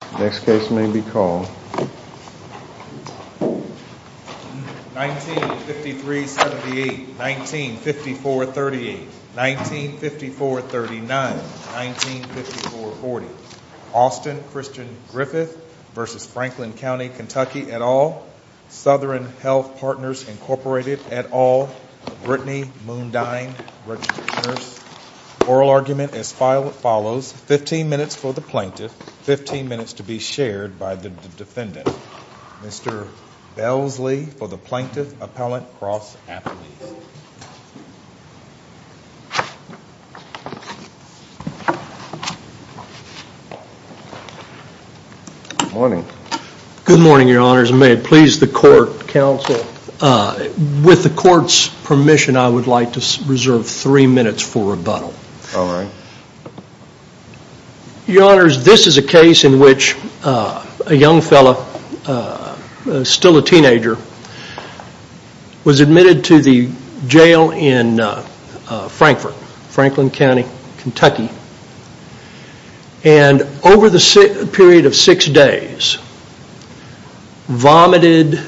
at all, Southern Health Partners Incorporated at all, Brittany Moondyne, registered nurse, Oral argument as follows, 15 minutes for the plaintiff, 15 minutes to be shared by the defendant. Mr. Belsley for the plaintiff, appellant, cross, affidavit. Good morning. Good morning, your honors. May it please the court, counsel, with the court's I would like to reserve three minutes for rebuttal. Your honors, this is a case in which a young fellow, still a teenager, was admitted to the jail in Frankfort, Franklin County Kentucky, and over the period of six days vomited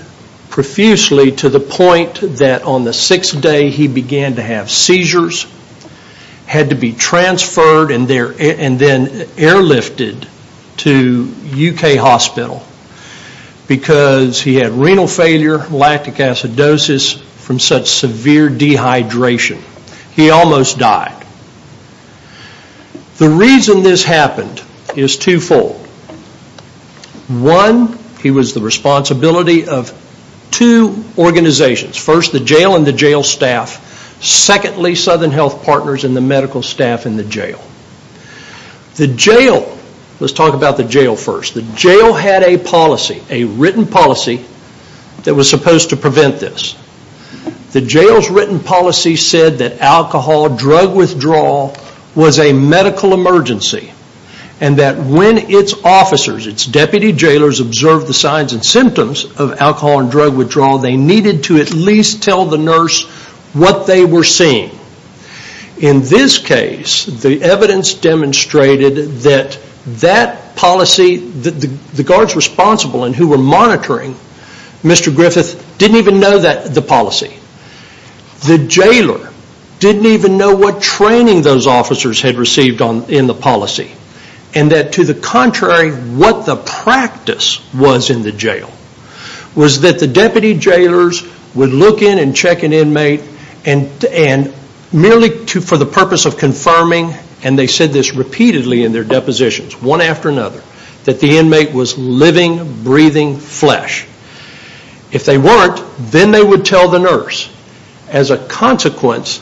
profusely to the point that on the sixth day he began to have seizures, had to be transferred and then airlifted to UK hospital because he had renal failure, lactic acidosis from such severe dehydration. He almost died. The reason this happened is two-fold. One, he was the responsibility of two organizations, first the jail and the jail staff, secondly Southern Health Partners and the medical staff in the jail. Let's talk about the jail first. The jail had a policy, a written policy, that was supposed to prevent this. The jail's written policy said that alcohol, drug withdrawal was a medical emergency and that when its officers, its deputy jailers, observed the signs and symptoms of alcohol and drug withdrawal, they needed to at least tell the nurse what they were seeing. In this case, the evidence demonstrated that the guards responsible and who were monitoring Mr. Griffith didn't even know the policy. The jailer didn't even know what training those officers had received in the policy and that to the contrary, what the practice was in the jail was that the deputy jailers would look in and check an inmate and merely for the purpose of confirming, and they said this repeatedly in their depositions, one after another, that the inmate was living, breathing flesh. If they weren't, then they would tell the nurse. As a consequence,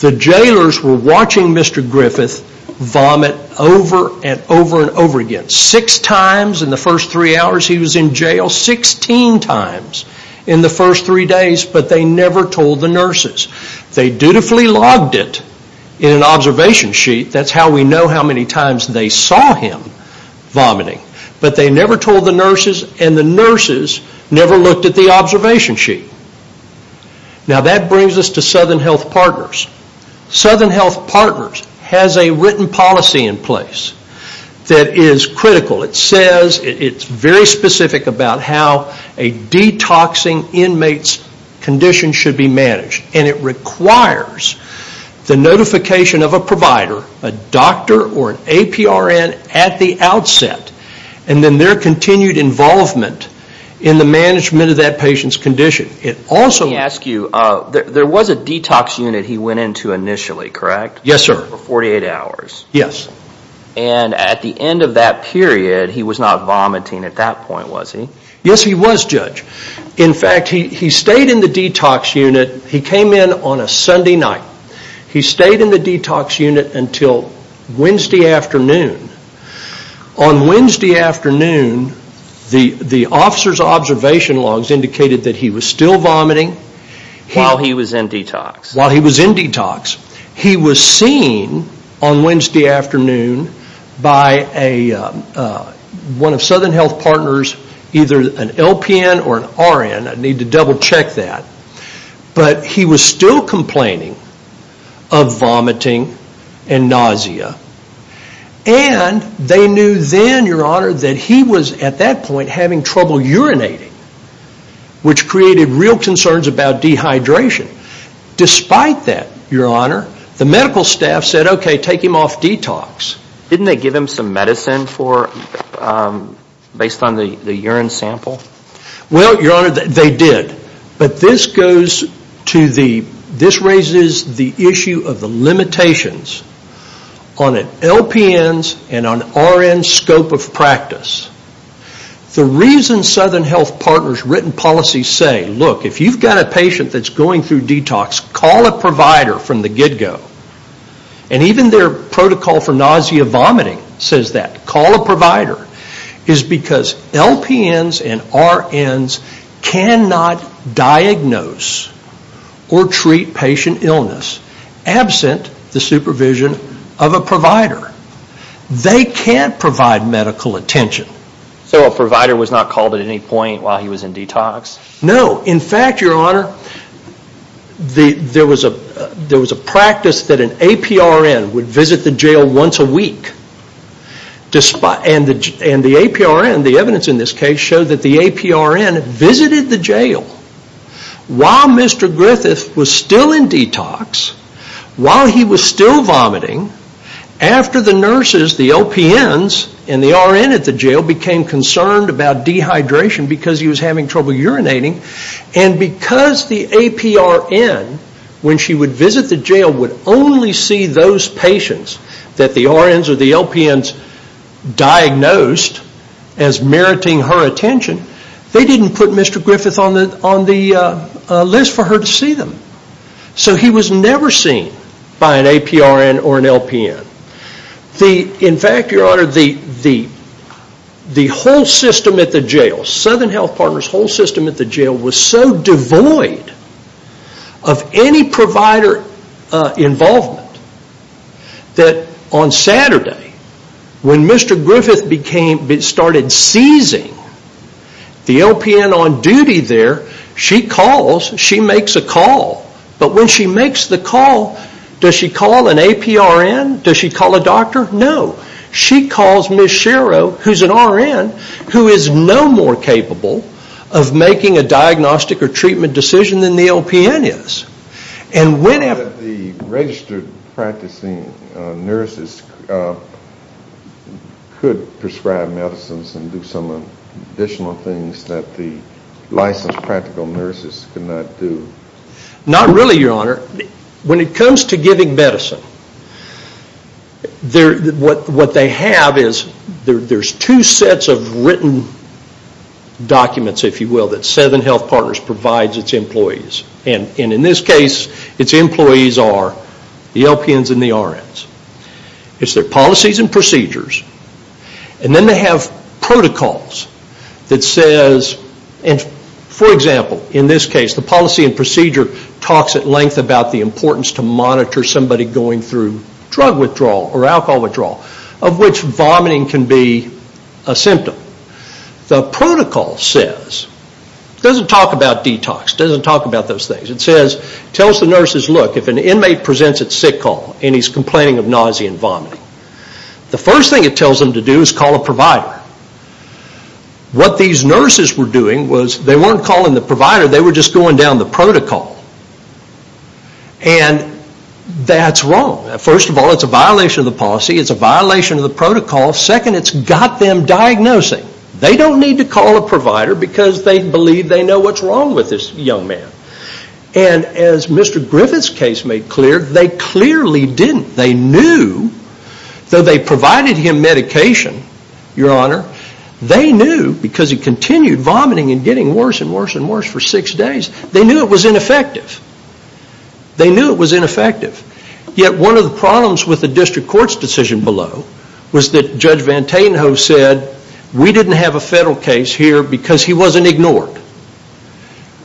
the jailers were watching Mr. Griffith vomit over and over and over again. Six times in the first three hours he was in jail, 16 times in the first three days, but they never told the nurses. They dutifully logged it in an observation sheet. That's how we know how many saw him vomiting, but they never told the nurses and the nurses never looked at the observation sheet. That brings us to Southern Health Partners. Southern Health Partners has a written policy in place that is critical. It says, it's very specific about how a detoxing inmate's condition should be managed, and it requires the notification of a provider, a doctor or an APRN at the outset, and then their continued involvement in the management of that patient's condition. It also... Let me ask you, there was a detox unit he went into initially, correct? Yes, sir. For 48 hours? Yes. At the end of that period, he was not vomiting at that point, was he? Yes, he was, Judge. In fact, he stayed in the detox unit. He came in on a Sunday night. He stayed in the detox unit until Wednesday afternoon. On Wednesday afternoon, the officer's observation logs indicated that he was still vomiting. While he was in detox? While he was in detox. He was seen on Wednesday afternoon by one of Southern Health Partners, either an LPN or an RN. I need to double check that. But he was still complaining of vomiting and nausea. And they knew then, Your Honor, that he was at that point having trouble urinating, which created real concerns about dehydration. Despite that, Your Honor, the medical staff said, okay, take him off detox. Didn't they give him some medicine based on the urine sample? Well, Your Honor, they did. But this goes to the... This raises the issue of the limitations on an LPN's and an RN's scope of going through detox. Call a provider from the get-go. And even their protocol for nausea vomiting says that. Call a provider. It's because LPN's and RN's cannot diagnose or treat patient illness absent the supervision of a provider. They can't provide medical attention. So a provider was not called at any point while he was in detox? No. In fact, Your Honor, there was a practice that an APRN would visit the jail once a week. And the APRN, the evidence in this case, showed that the APRN visited the jail while Mr. Griffith was still in detox, while he was still vomiting, after the nurses, the LPN's and the RN's at the jail became concerned about dehydration because he was having trouble urinating. And because the APRN, when she would visit the jail, would only see those patients that the RN's or the LPN's diagnosed as meriting her attention, they didn't put Mr. Griffith on the list for her to see them. So he was never seen by an APRN or an LPN. In fact, Your Honor, the whole system at the jail, Southern Health Partners' whole system at the jail, was so devoid of any provider involvement that on Saturday, when Mr. Griffith started seizing the LPN on duty there, she calls, she makes a call. But when she makes the call, does she call an APRN? Does she call a doctor? No. She calls Ms. Shero, who's an RN, who is no more capable of making a diagnostic or treatment decision than the LPN is. But the registered practicing nurses could prescribe medicines and do some additional things that the licensed practical nurses could not do. Not really, Your Honor. When it comes to giving medicine, what they have is there's two sets of written documents, if you will, that Southern Health Partners provides its employees. And in this case, its employees are the LPNs and the RNs. It's their policies and procedures. And then they have protocols that says, for example, in this case, the policy and procedure talks at length about the importance to monitor somebody going through drug withdrawal or alcohol withdrawal, of which vomiting can be a symptom. The protocol says, it doesn't talk about detox, it doesn't talk about those things. It says, it tells the nurses, look, if an inmate presents at sick call and he's complaining of nausea and vomiting, the first thing it tells them to do is call a provider. What these nurses were doing was they weren't calling the provider, they were just going down the protocol. And that's wrong. First of all, it's a violation of the policy, it's a violation of the protocol. Second, it's got them diagnosing. They don't need to call a provider because they believe they know what's wrong with this young man. And as Mr. Griffith's case made clear, they clearly didn't. They knew, though they provided him medication, your honor, they knew because he continued vomiting and getting worse and worse and worse for six days, they knew it was ineffective. They knew it was ineffective. Yet one of the problems with the district court's decision below was that Judge Van Tatenhove said, we didn't have a federal case here because he wasn't ignored.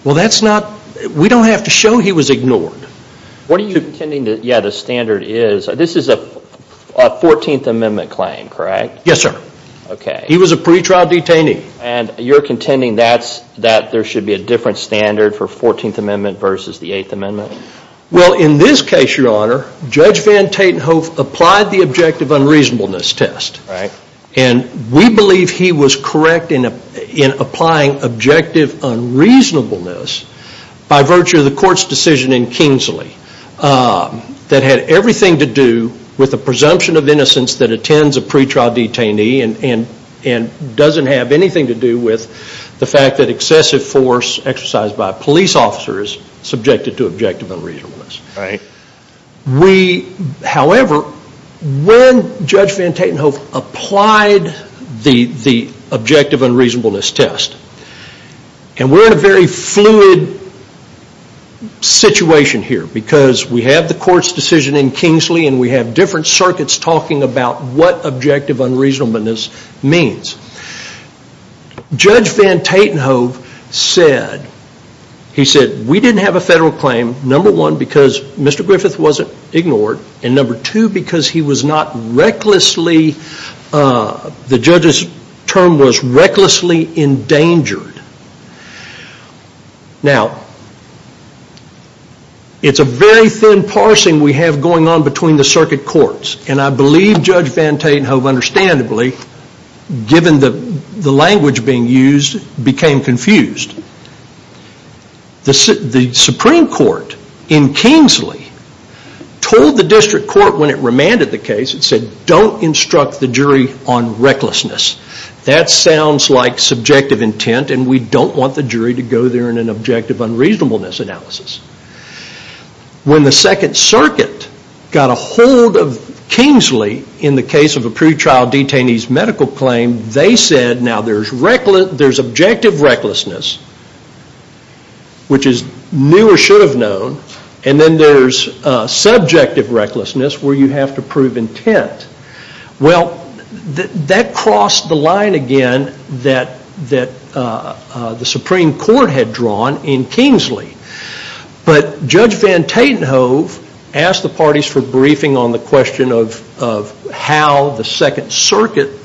Well, that's not, we don't have to show he was ignored. What are you contending that, yeah, the standard is, this is a 14th Amendment claim, correct? Yes, sir. Okay. He was a pretrial detainee. And you're contending that there should be a different standard for 14th Amendment versus the 8th Amendment? Well, in this case, your honor, Judge Van Tatenhove applied the objective unreasonableness test. Right. And we believe he was correct in applying objective unreasonableness by virtue of the court's decision in Kingsley that had everything to do with the presumption of innocence that attends a pretrial detainee and doesn't have anything to do with the fact that excessive force exercised by a police officer is subjected to when Judge Van Tatenhove applied the objective unreasonableness test. And we're in a very fluid situation here because we have the court's decision in Kingsley and we have different circuits talking about what objective unreasonableness means. Judge Van Tatenhove said, he said, we didn't have a federal claim, number one, because Mr. Griffith wasn't ignored, and number two, because he was not recklessly, the judge's term was recklessly endangered. Now, it's a very thin parsing we have going on between the circuit courts, and I believe Judge Van Tatenhove understandably, given the language being used, became confused. The Supreme Court in Kingsley told the district court when it remanded the case, it said don't instruct the jury on recklessness. That sounds like subjective intent and we don't want the jury to go there in an objective unreasonableness analysis. When the Second Circuit got a hold of Kingsley in the case of a pretrial detainee's medical claim, they said now there's objective recklessness, which is new or should have known, and then there's subjective recklessness where you have to prove intent. Well, that crossed the line again that the Supreme Court had drawn in Kingsley, but Judge Van Tatenhove asked the parties for briefing on the question of how the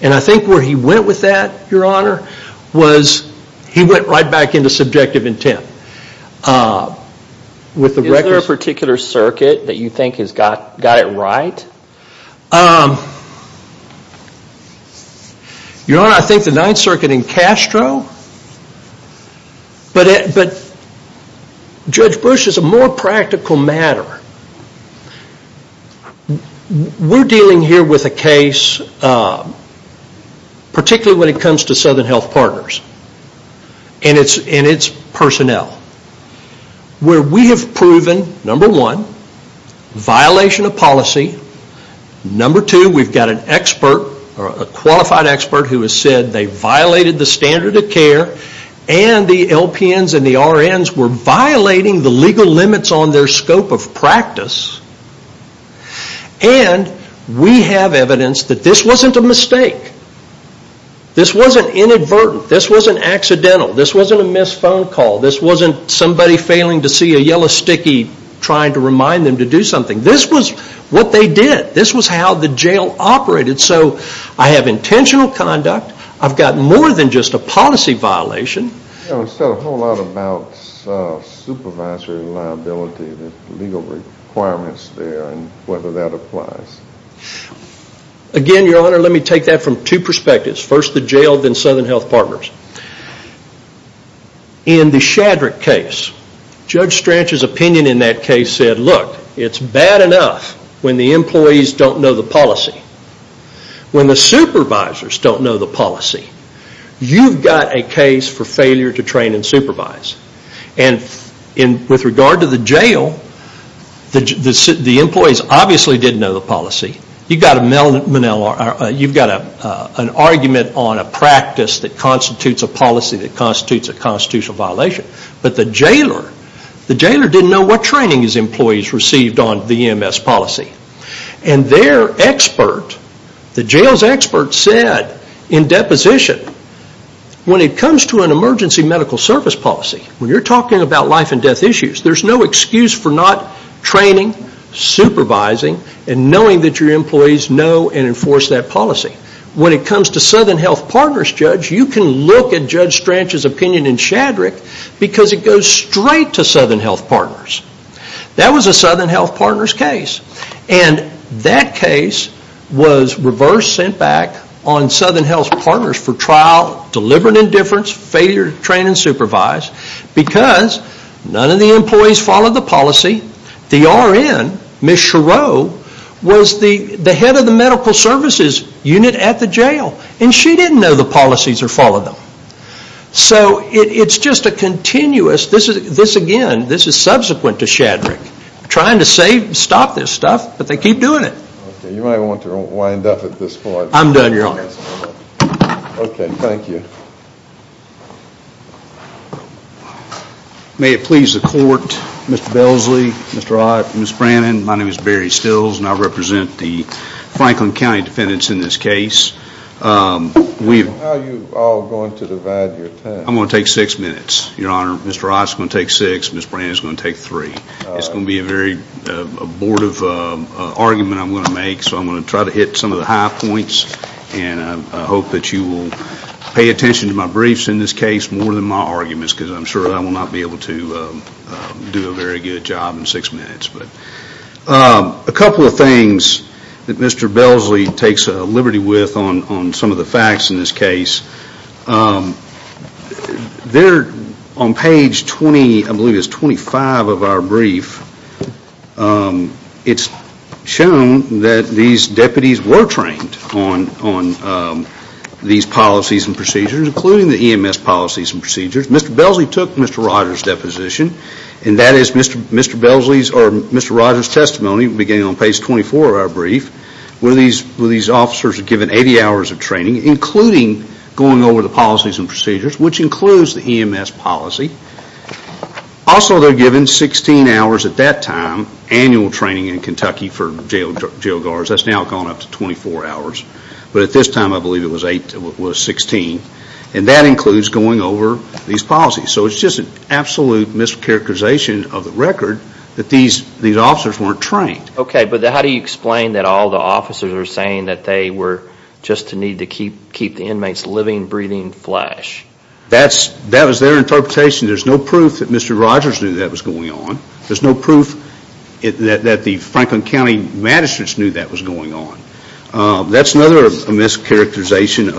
and I think where he went with that, your honor, was he went right back into subjective intent. Is there a particular circuit that you think has got it right? Your honor, I think the Ninth Circuit in Castro, but Judge Bush is a more practical matter. We're dealing here with a case, particularly when it comes to Southern Health Partners and its personnel, where we have proven, number one, violation of policy. Number two, we've got an expert, a qualified expert who has said they violated the standard of care and the LPNs and the RNs were in practice, and we have evidence that this wasn't a mistake. This wasn't inadvertent. This wasn't accidental. This wasn't a missed phone call. This wasn't somebody failing to see a yellow sticky trying to remind them to do something. This was what they did. This was how the jail operated. So I have intentional conduct. I've got more than just a policy violation. You said a whole lot about supervisory liability, the legal requirements there, and whether that applies. Again, your honor, let me take that from two perspectives. First, the jail, then Southern Health Partners. In the Shadrick case, Judge Strach's opinion in that case said, look, it's bad enough when the employees don't know the policy. When the supervisors don't know the policy, you've got a case for failure to train and supervise. And with regard to the jail, the employees obviously didn't know the policy. You've got an argument on a practice that constitutes a policy that constitutes a constitutional violation. But the jailer didn't know what training his employees received on the EMS policy. And their expert, the jail's expert said in deposition, when it comes to an emergency medical service policy, when you're talking about life and death issues, there's no excuse for not training, supervising, and knowing that your employees know and enforce that policy. When it comes to Southern Health Partners, Judge, you can look at Judge Strach's opinion in Shadrick because it goes straight to Southern Health Partners. That was a Southern Health Partners case. And that case was reverse sent back on Southern Health Partners for trial, deliberate indifference, failure to train and supervise, because none of the employees followed the policy. The RN, Ms. Chereau, was the head of the medical services unit at the jail, and she didn't know the policies or follow them. So it's just a continuous, this again, this is subsequent to Shadrick, trying to stop this stuff, but they keep doing it. You might want to wind up at this point. I'm done, Your Honor. Okay, thank you. May it please the court, Mr. Belsley, Mr. Ott, Ms. Brannon, my name is Barry Stills, and I represent the Franklin County defendants in this case. How are you all going to divide your time? I'm going to take six minutes, Your Honor. Mr. Ott's going to take six, Ms. Brannon's going to take three. It's going to be a very abortive argument I'm going to make, so I'm going to try to hit some of the high points, and I hope that you will pay attention to my briefs in this case more than my arguments, because I'm sure I will not be able to do a very good job in six minutes. A couple of things that Mr. Belsley takes liberty with on some of the facts in this case, they're on page 20, I believe it's 25 of our brief, it's shown that these deputies were trained on these policies and procedures, including the EMS policies and procedures. Mr. Belsley took Mr. Rogers' deposition, and that is Mr. Belsley's or Mr. Rogers' testimony, beginning on page 24 of our brief, where these officers are given 80 hours of training, including going over the policies and procedures, which includes the EMS policy. Also, they're given 16 hours at that time, annual training in Kentucky for jail guards, that's now gone up to 24 hours, but at this time I believe it was 16, and that includes going over these policies. So it's just an absolute mischaracterization of the record that these officers weren't trained. Okay, but how do you explain that all the officers are saying that they were just in need to keep the inmates living, breathing flesh? That was their interpretation. There's no proof that Mr. Rogers knew that was going on. There's no proof that the Franklin County magistrates knew that was going on. That's another mischaracterization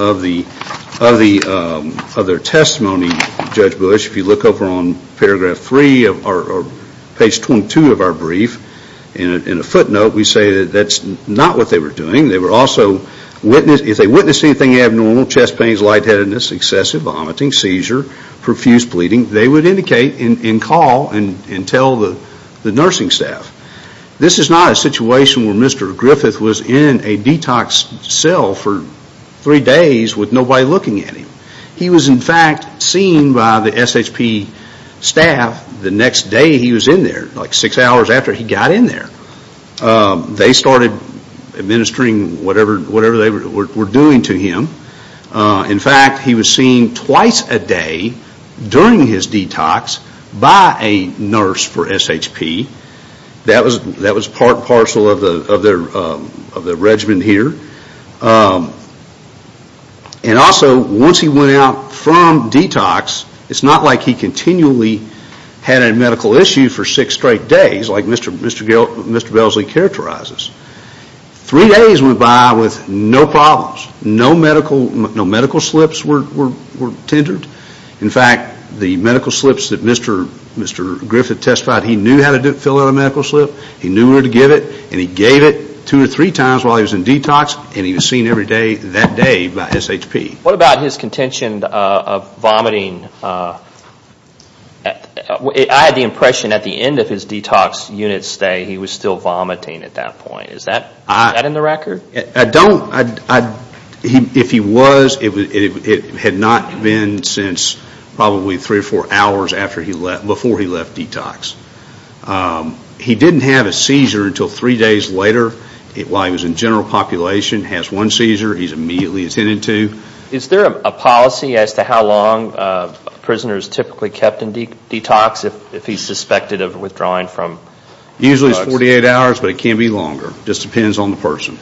of their testimony, Judge Bush. If you look over on paragraph 3 or page 22 of our brief, in a footnote we say that that's not what they were doing. If they witnessed anything abnormal, chest pains, lightheadedness, excessive vomiting, seizure, profuse bleeding, they would indicate and call and tell the nursing staff. This is not a situation where Mr. Griffith was in a detox cell for three days with nobody looking at him. He was in fact seen by the SHP staff the next day he was in there, like six hours after he got in there. They started administering whatever they were doing to him. In fact, he was seen twice a day during his detox by a nurse for SHP. That was part and parcel of the regiment here. And also, once he went out from detox, it's not like he continually had a medical issue for six straight days, like Mr. Belsley characterizes. Three days went by with no problems. No medical slips were tendered. In fact, the medical slips that Mr. Griffith testified, he knew how to fill out a medical slip, he knew where to get it, and he gave it two or three times while he was in detox, and he was seen every day that day by SHP. What about his contention of vomiting? I had the impression at the end of his detox unit stay, he was still vomiting at that point. Is that in the record? I don't, if he was, it had not been since probably three or four hours before he left detox. He didn't have a seizure until three days later while he was in general population, has one seizure, he's immediately attended to. Is there a policy as to how long prisoners typically kept in detox if he's suspected of withdrawing from detox? Usually it's 48 hours, but it can be longer. It just depends on the person.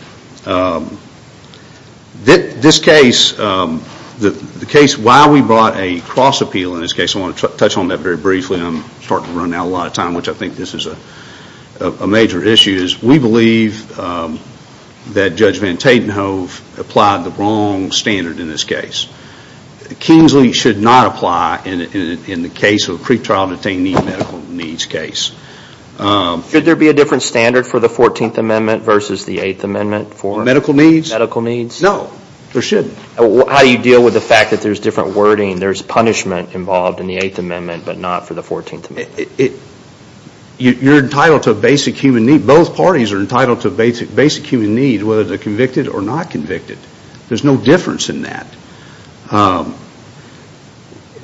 This case, the case why we brought a cross appeal in this case, I want to touch on that very briefly. I'm starting to run out of time, which I think this is a major issue. We believe that Judge Van Tatenhove applied the wrong standard in this case. Kingsley should not apply in the case of pre-trial detainee medical needs case. Should there be a different standard for the 14th amendment versus the 8th amendment for medical needs? No, there shouldn't. How do you deal with the fact that there's different wording, there's punishment involved in the 8th amendment, but not for the 14th amendment? You're entitled to a basic human need, both parties are entitled to a basic human need whether they're convicted or not convicted. There's no difference in that.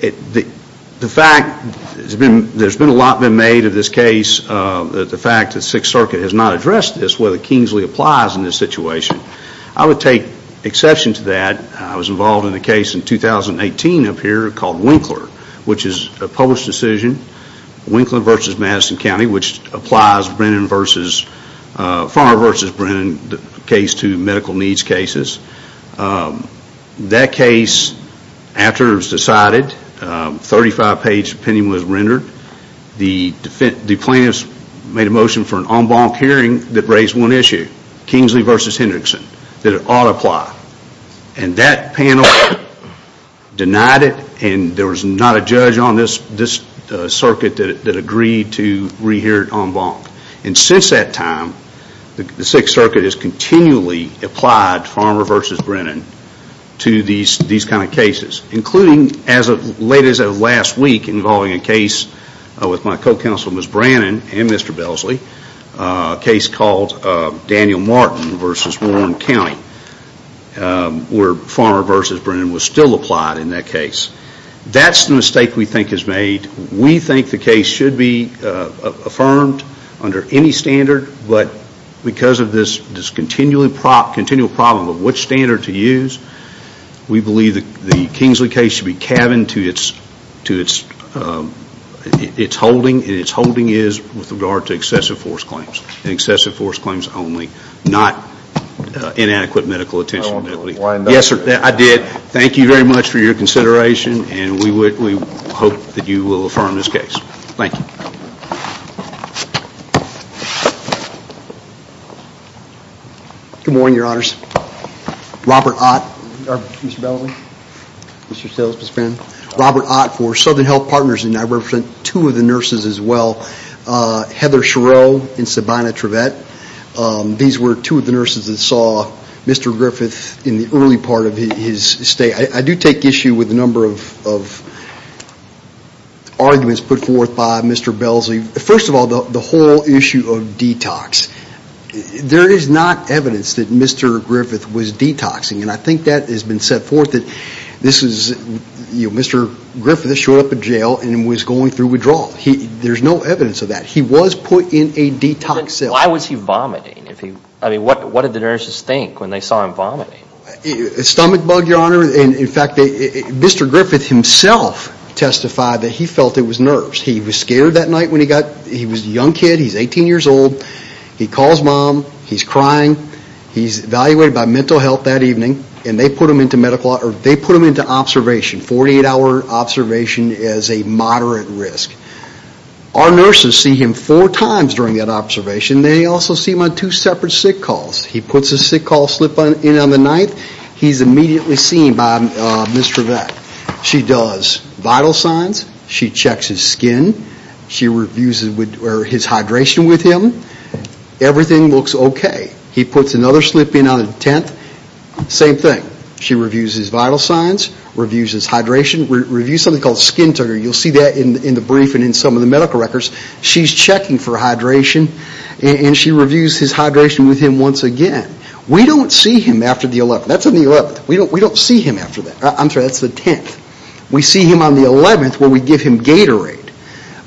The fact there's been a lot made of this case, the fact that 6th circuit has not addressed this, whether Kingsley applies in this situation. I would take exception to that. I was involved in the case in 2018 up here called Winkler, which is a case to medical needs cases. That case, after it was decided, 35 page opinion was rendered. The plaintiffs made a motion for an en banc hearing that raised one issue, Kingsley versus Hendrickson, that it ought to apply. And that panel denied it and there was not a judge on this circuit that agreed to re-hear it en banc. And since that time, the 6th circuit has continually applied Farmer versus Brennan to these kind of cases, including late as of last week involving a case with my co-counsel Ms. Brannon and Mr. Belsley, a case called Daniel Martin versus Warren County, where Farmer versus Brennan was still applied in that case. That's the mistake we think is made. We think the case should be affirmed under any standard, but because of this continual problem of which standard to use, we believe the Kingsley case should be cabined to its holding and its holding is with regard to excessive force claims and excessive force claims only, not inadequate medical attention. Yes sir, I did. Thank you very much for your consideration and we hope that you will affirm this case. Thank you. Good morning, your honors. Robert Ott for Southern Health Partners and I represent two of the nurses as well, Heather Griffith in the early part of his stay. I do take issue with a number of arguments put forth by Mr. Belsley. First of all, the whole issue of detox. There is not evidence that Mr. Griffith was detoxing and I think that has been set forth that Mr. Griffith showed up at jail and was going through withdrawal. There's no evidence of that. He was put in a detox cell. Why was he vomiting? What did the nurses think when they saw him vomiting? Stomach bug, your honor. In fact, Mr. Griffith himself testified that he felt it was nerves. He was scared that night when he got there. He was a young kid. He's 18 years old. He calls mom. He's crying. He's evaluated by mental health that evening and they put him on two separate sick calls. He puts a sick call slip in on the 9th. He's immediately seen by Ms. Trevette. She does vital signs. She checks his skin. She reviews his hydration with him. Everything looks okay. He puts another slip in on the 10th. Same thing. She reviews his vital signs, reviews his hydration, reviews something called skin toner. You'll see that in the brief and in some of the briefs. And she reviews his hydration with him once again. We don't see him after the 11th. That's on the 11th. We don't see him after that. I'm sorry, that's the 10th. We see him on the 11th where we give him Gatorade.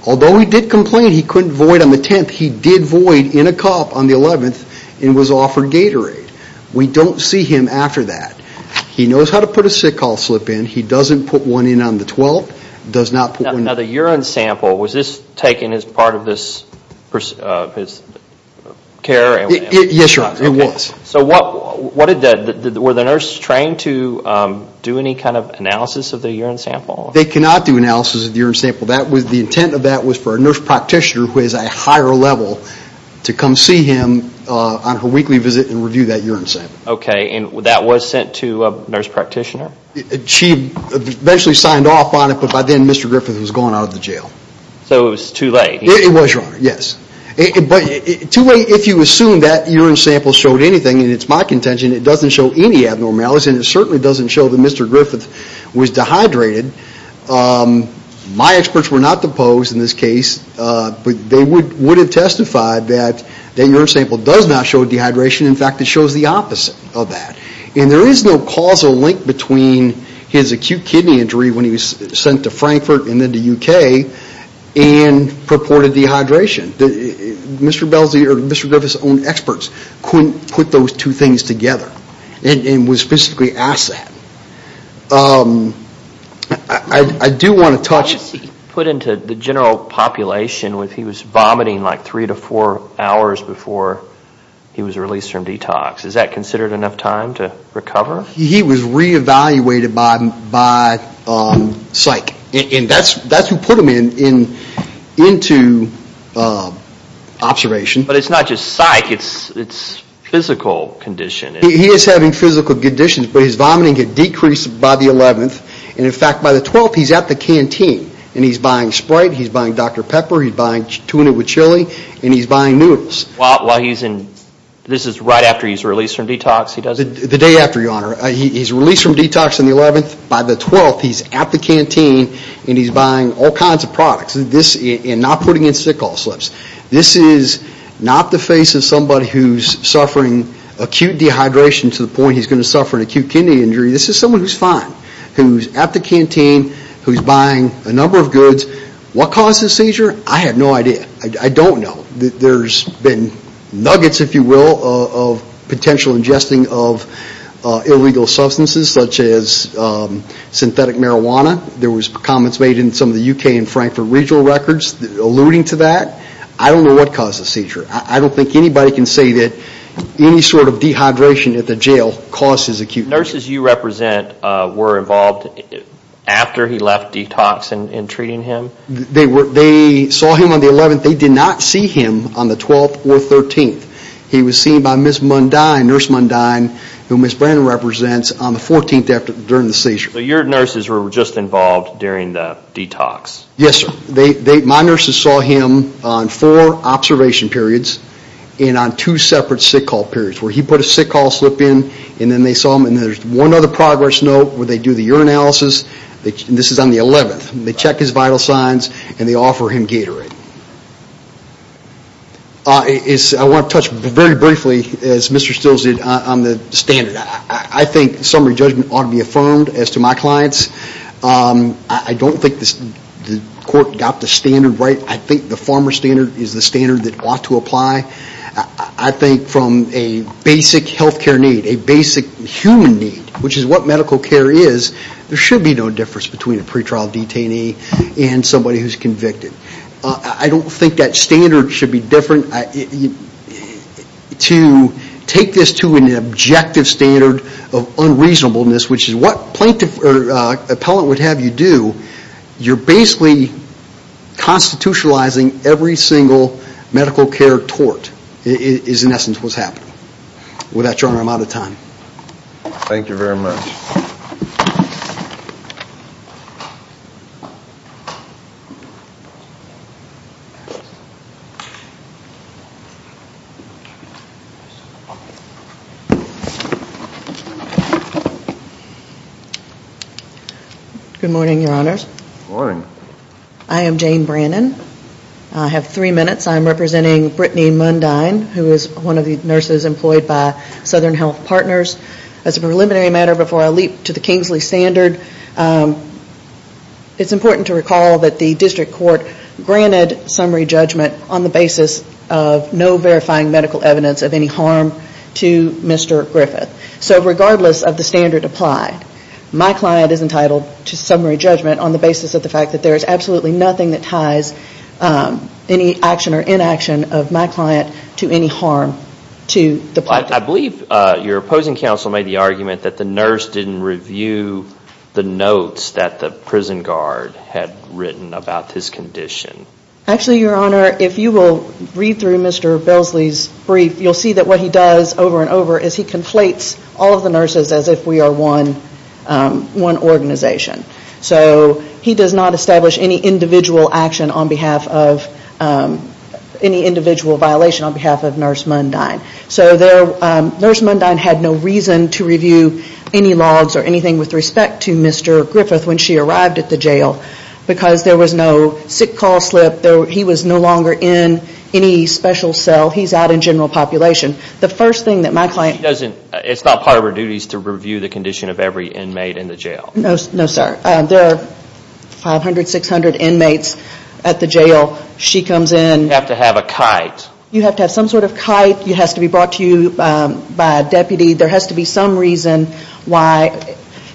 Although he did complain he couldn't void on the 10th, he did void in a cup on the 11th and was offered Gatorade. We don't see him after that. He knows how to put a sick call slip in. He doesn't put one on the 10th. Were the nurses trained to do any kind of analysis of the urine sample? They cannot do analysis of the urine sample. The intent of that was for a nurse practitioner who is a higher level to come see him on her weekly visit and review that urine sample. Okay, and that was sent to a nurse practitioner? She eventually signed off on it, but by then Mr. Griffith was gone out of the jail. So it was too late? It was, Your Honor. If you assume that urine sample showed anything, and it's my contention, it doesn't show any abnormalities and it certainly doesn't show that Mr. Griffith was dehydrated. My experts were not the Poe's in this case, but they would have testified that the urine sample does not show dehydration. In fact, it shows the opposite of that. There is no causal link between his acute kidney injury when he was sent to the ward of dehydration. Mr. Griffith's own experts couldn't put those two things together and was specifically asked that. I do want to touch... How was he put into the general population when he was vomiting like three to four hours before he was released from detox? He was re-evaluated by psych, and that's what put him into observation. But it's not just psych, it's physical condition. He is having physical conditions, but his vomiting had decreased by the 11th, and in fact by the 12th he's at the canteen. And he's buying Sprite, he's buying Dr. Pepper, he's buying tuna with chili, and he's buying noodles. While he's in... This is right after he's released from detox? The day after, Your Honor. He's released from detox on the 11th, by the 12th he's at the canteen, and he's buying all kinds of products, and not putting in sickle slips. This is not the face of somebody who's suffering acute dehydration to the point he's going to suffer an acute kidney injury. This is someone who's fine, who's at the canteen, who's buying a number of goods. What caused his seizure? I have no idea. I don't know. There's been nuggets, if you will, of potential ingesting of illegal substances, such as synthetic marijuana. There was comments made in some of the UK and Frankfurt regional records alluding to that. I don't know what caused the seizure. I don't think anybody can say that any sort of dehydration at the jail causes acute... Nurses you represent were involved after he left detox in treating him? They saw him on the 11th. They did not see him on the 12th or 13th. He was seen by Ms. Mundine, Nurse Mundine, who Ms. Brandon represents, on the 14th during the seizure. So your nurses were just involved during the detox? Yes, sir. My nurses saw him on four observation periods, and on two separate sickle periods, where he put a sickle slip in, and then they saw him, and there's one other progress note where they do the urinalysis. This is on the 11th. They check his vital signs, and they offer him Gatorade. I want to touch very briefly, as Mr. Stills did, on the standard. I think summary judgment ought to be affirmed as to my clients. I don't think the court got the standard right. I think the farmer standard is the standard that ought to apply. I think from a basic health care need, a basic human need, which is what medical care is, there should be no difference between a pretrial detainee and somebody who's convicted. I don't think that standard should be different. To take this to an objective standard of unreasonableness, which is what a plaintiff or appellant would have you do, you're basically constitutionalizing every single medical care tort, is in essence what's happening. With that, Your Honor, I'm out of time. Thank you very much. Thank you. Good morning, Your Honors. Good morning. I am Jane Brannon. I have three minutes. I'm representing Brittany Mundine, who is one of the nurses employed by Southern Health Partners. As a preliminary matter, before I leap to the Kingsley standard, it's important to recall that the district court granted summary judgment on the basis of no verifying medical evidence of any harm to Mr. Griffith. So regardless of the standard applied, my client is entitled to summary judgment on the basis of the fact that there is absolutely nothing that ties any action or inaction of my client to any harm to the plaintiff. I believe your opposing counsel made the argument that the nurse didn't review the notes that the prison guard had written about his condition. Actually, Your Honor, if you will read through Mr. Belsley's brief, you'll see that what he does over and over is he conflates all of the nurses as if we are one organization. So he does not establish any individual action on behalf of, any individual violation on behalf of Nurse Mundine. So Nurse Mundine had no reason to review any logs or anything with respect to Mr. Griffith when she arrived at the jail because there was no sick call slip. He was no longer in any special cell. He's out in general population. The first thing that my client- She doesn't, it's not part of her duties to review the condition of every inmate in the jail. No sir. There are 500, 600 inmates at the jail. She comes in- You have to have a kite. You have to have some sort of kite. It has to be brought to you by a deputy. There has to be some reason why-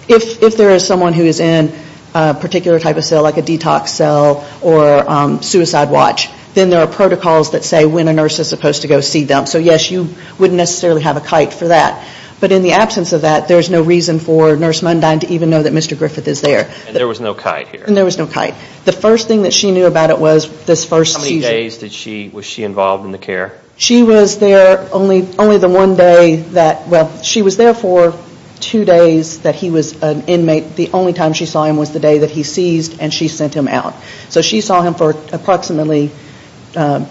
If there is someone who is in a particular type of cell, like a detox cell or suicide watch, then there are protocols that say when a nurse is supposed to go see them. So yes, you wouldn't necessarily have a kite for that. But in the absence of that, there's no reason for Nurse Mundine to even know that Mr. Griffith is there. And there was no kite here. And there was no kite. The first thing that she knew about it was this first- How many days was she involved in the care? She was there only the one day that- Well, she was there for two days that he was an inmate. The only time she saw him was the day that he seized and she sent him out. So she saw him for approximately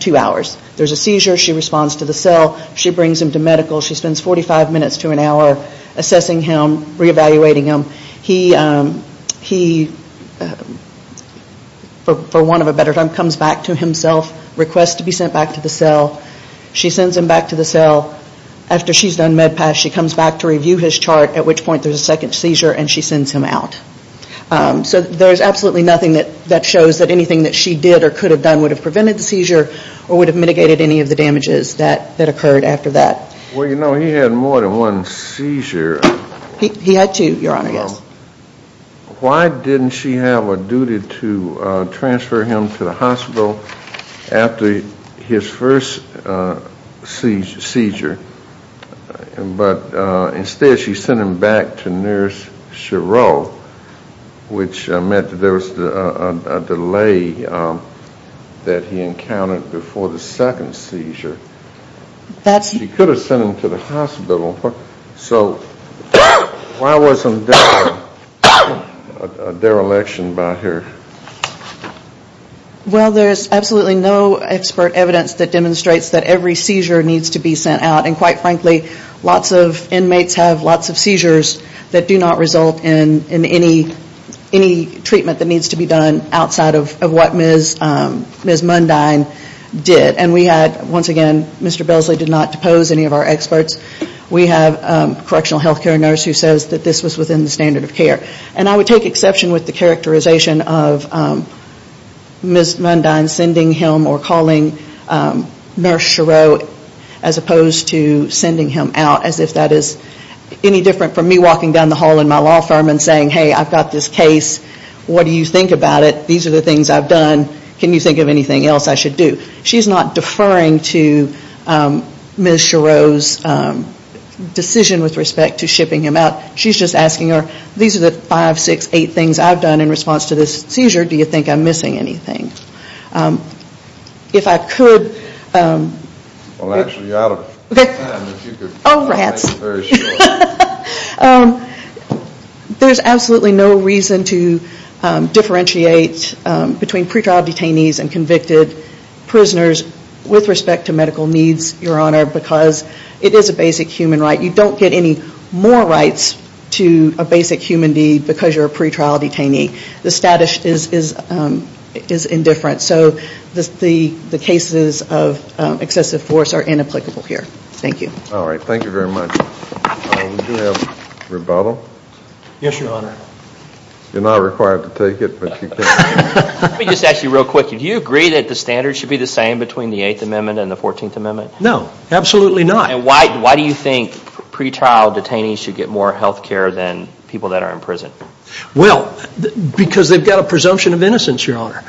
two hours. There's a seizure. She responds to the cell. She brings him to medical. She spends 45 minutes to an hour assessing him, reevaluating him. He, for want of a better term, comes back to himself, requests to be sent back to the cell. She sends him back to the cell. After she's done med pass, she comes back to review his chart, at which point there's a second seizure and she sends him out. So there's absolutely nothing that shows that anything that she did or could have done would have prevented the seizure or would have mitigated any of the damages that occurred after that. Well, you know, he had more than one seizure. He had two, Your Honor, yes. Why didn't she have a duty to transfer him to the hospital after his first seizure but instead she sent him back to Nurse Chereau, which meant that there was a delay that he encountered before the second seizure? She could have sent him to the hospital. So why wasn't there a dereliction by her? Well, there's absolutely no expert evidence that demonstrates that every seizure needs to be sent out. And quite frankly, lots of inmates have lots of seizures that do not result in any treatment that needs to be done outside of what Ms. Mundine did. And we had, once again, Mr. Belsley did not depose any of our experts. We have a correctional health care nurse who says that this was within the standard of care. And I would take exception with the characterization of Ms. Mundine sending him or calling Nurse Chereau as opposed to sending him out as if that is any different from me walking down the hall in my law firm and saying, hey, I've got this case. What do you think about it? These are the things I've done. Can you think of anything else I should do? She's not deferring to Ms. Chereau's decision with respect to shipping him out. She's just asking her, these are the five, six, eight things I've done in response to this seizure. Do you think I'm missing anything? If I could. Well, actually, you're out of time. Oh, rats. There's absolutely no reason to differentiate between pretrial detainees and convicted prisoners with respect to medical needs, Your Honor, because it is a basic human right. You don't get any more rights to a basic human deed because you're a pretrial detainee. The status is indifferent. So the cases of excessive force are inapplicable here. Thank you. All right. Thank you very much. We do have rebuttal. Yes, Your Honor. You're not required to take it, but you can. Let me just ask you real quick. Do you agree that the standards should be the same between the Eighth Amendment and the Fourteenth Amendment? No, absolutely not. And why do you think pretrial detainees should get more health care than people that are in prison? Well, because they've got a presumption of innocence, Your Honor.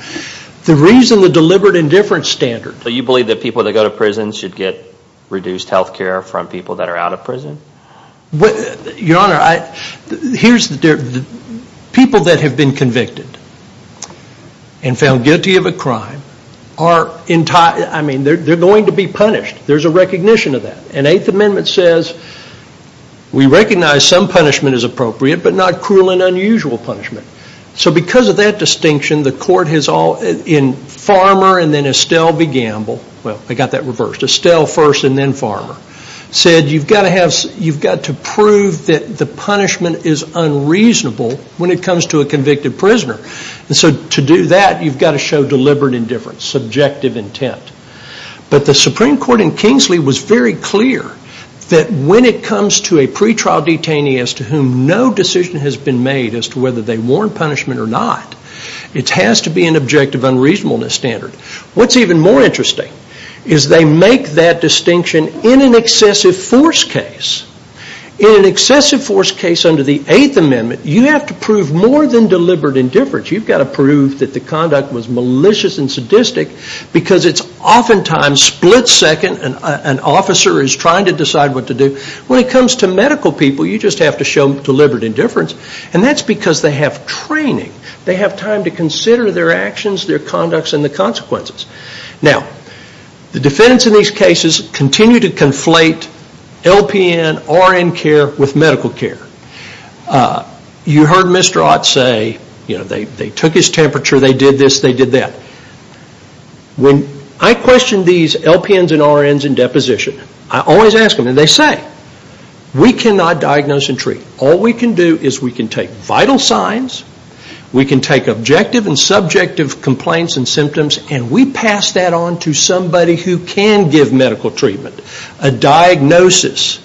The reason the deliberate indifference standard. So you believe that people that go to prison should get reduced health care from people that are out of prison? Your Honor, people that have been convicted and found guilty of a crime are going to be punished. There's a recognition of that. And Eighth Amendment says we recognize some punishment is appropriate but not cruel and unusual punishment. So because of that distinction, the court has all, in Farmer and then Estelle v. Gamble, well, I got that reversed, Estelle first and then Farmer, said you've got to prove that the punishment is unreasonable when it comes to a convicted prisoner. And so to do that, you've got to show deliberate indifference, subjective intent. But the Supreme Court in Kingsley was very clear that when it comes to a pretrial detainee as to whom no decision has been made as to whether they warrant punishment or not, it has to be an objective unreasonableness standard. What's even more interesting is they make that distinction in an excessive force case. In an excessive force case under the Eighth Amendment, you have to prove more than deliberate indifference. You've got to prove that the conduct was malicious and sadistic because it's oftentimes split second and an officer is trying to decide what to do. When it comes to medical people, you just have to show deliberate indifference. And that's because they have training. They have time to consider their actions, their conducts, and the consequences. Now, the defendants in these cases continue to conflate LPN, RN care with medical care. You heard Mr. Ott say they took his temperature, they did this, they did that. When I question these LPNs and RNs in deposition, I always ask them, and they say, we cannot diagnose and treat. All we can do is we can take vital signs, we can take objective and subjective complaints and symptoms, and we pass that on to somebody who can give medical treatment. A diagnosis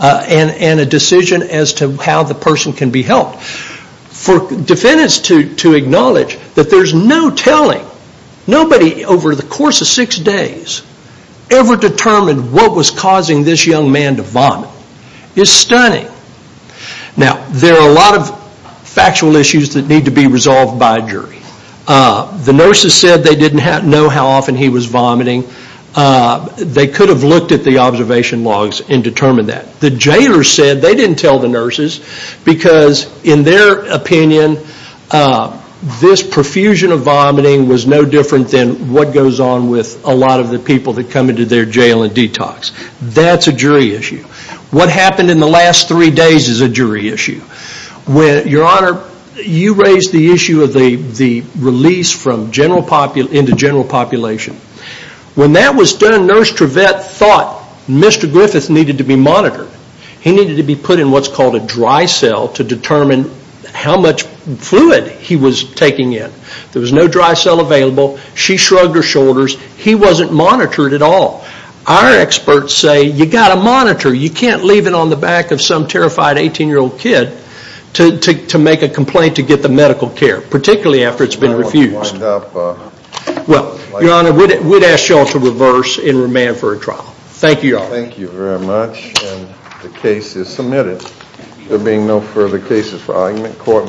and a decision as to how the person can be helped. For defendants to acknowledge that there's no telling, nobody over the course of six days ever determined what was causing this young man to vomit is stunning. Now, there are a lot of factual issues that need to be resolved by a jury. The nurses said they didn't know how often he was vomiting. They could have looked at the observation logs and determined that. The jailers said they didn't tell the nurses because, in their opinion, this profusion of vomiting was no different than what goes on with a lot of the people that come into their jail and detox. That's a jury issue. What happened in the last three days is a jury issue. Your Honor, you raised the issue of the release into general population. When that was done, Nurse Trevette thought Mr. Griffith needed to be monitored. He needed to be put in what's called a dry cell to determine how much fluid he was taking in. There was no dry cell available. She shrugged her shoulders. He wasn't monitored at all. Our experts say you've got to monitor. You can't leave it on the back of some terrified 18-year-old kid to make a complaint to get the medical care, particularly after it's been refused. Your Honor, we'd ask you all to reverse and remand for a trial. Thank you, Your Honor. Thank you very much, and the case is submitted. There being no further cases for argument, court may adjourn.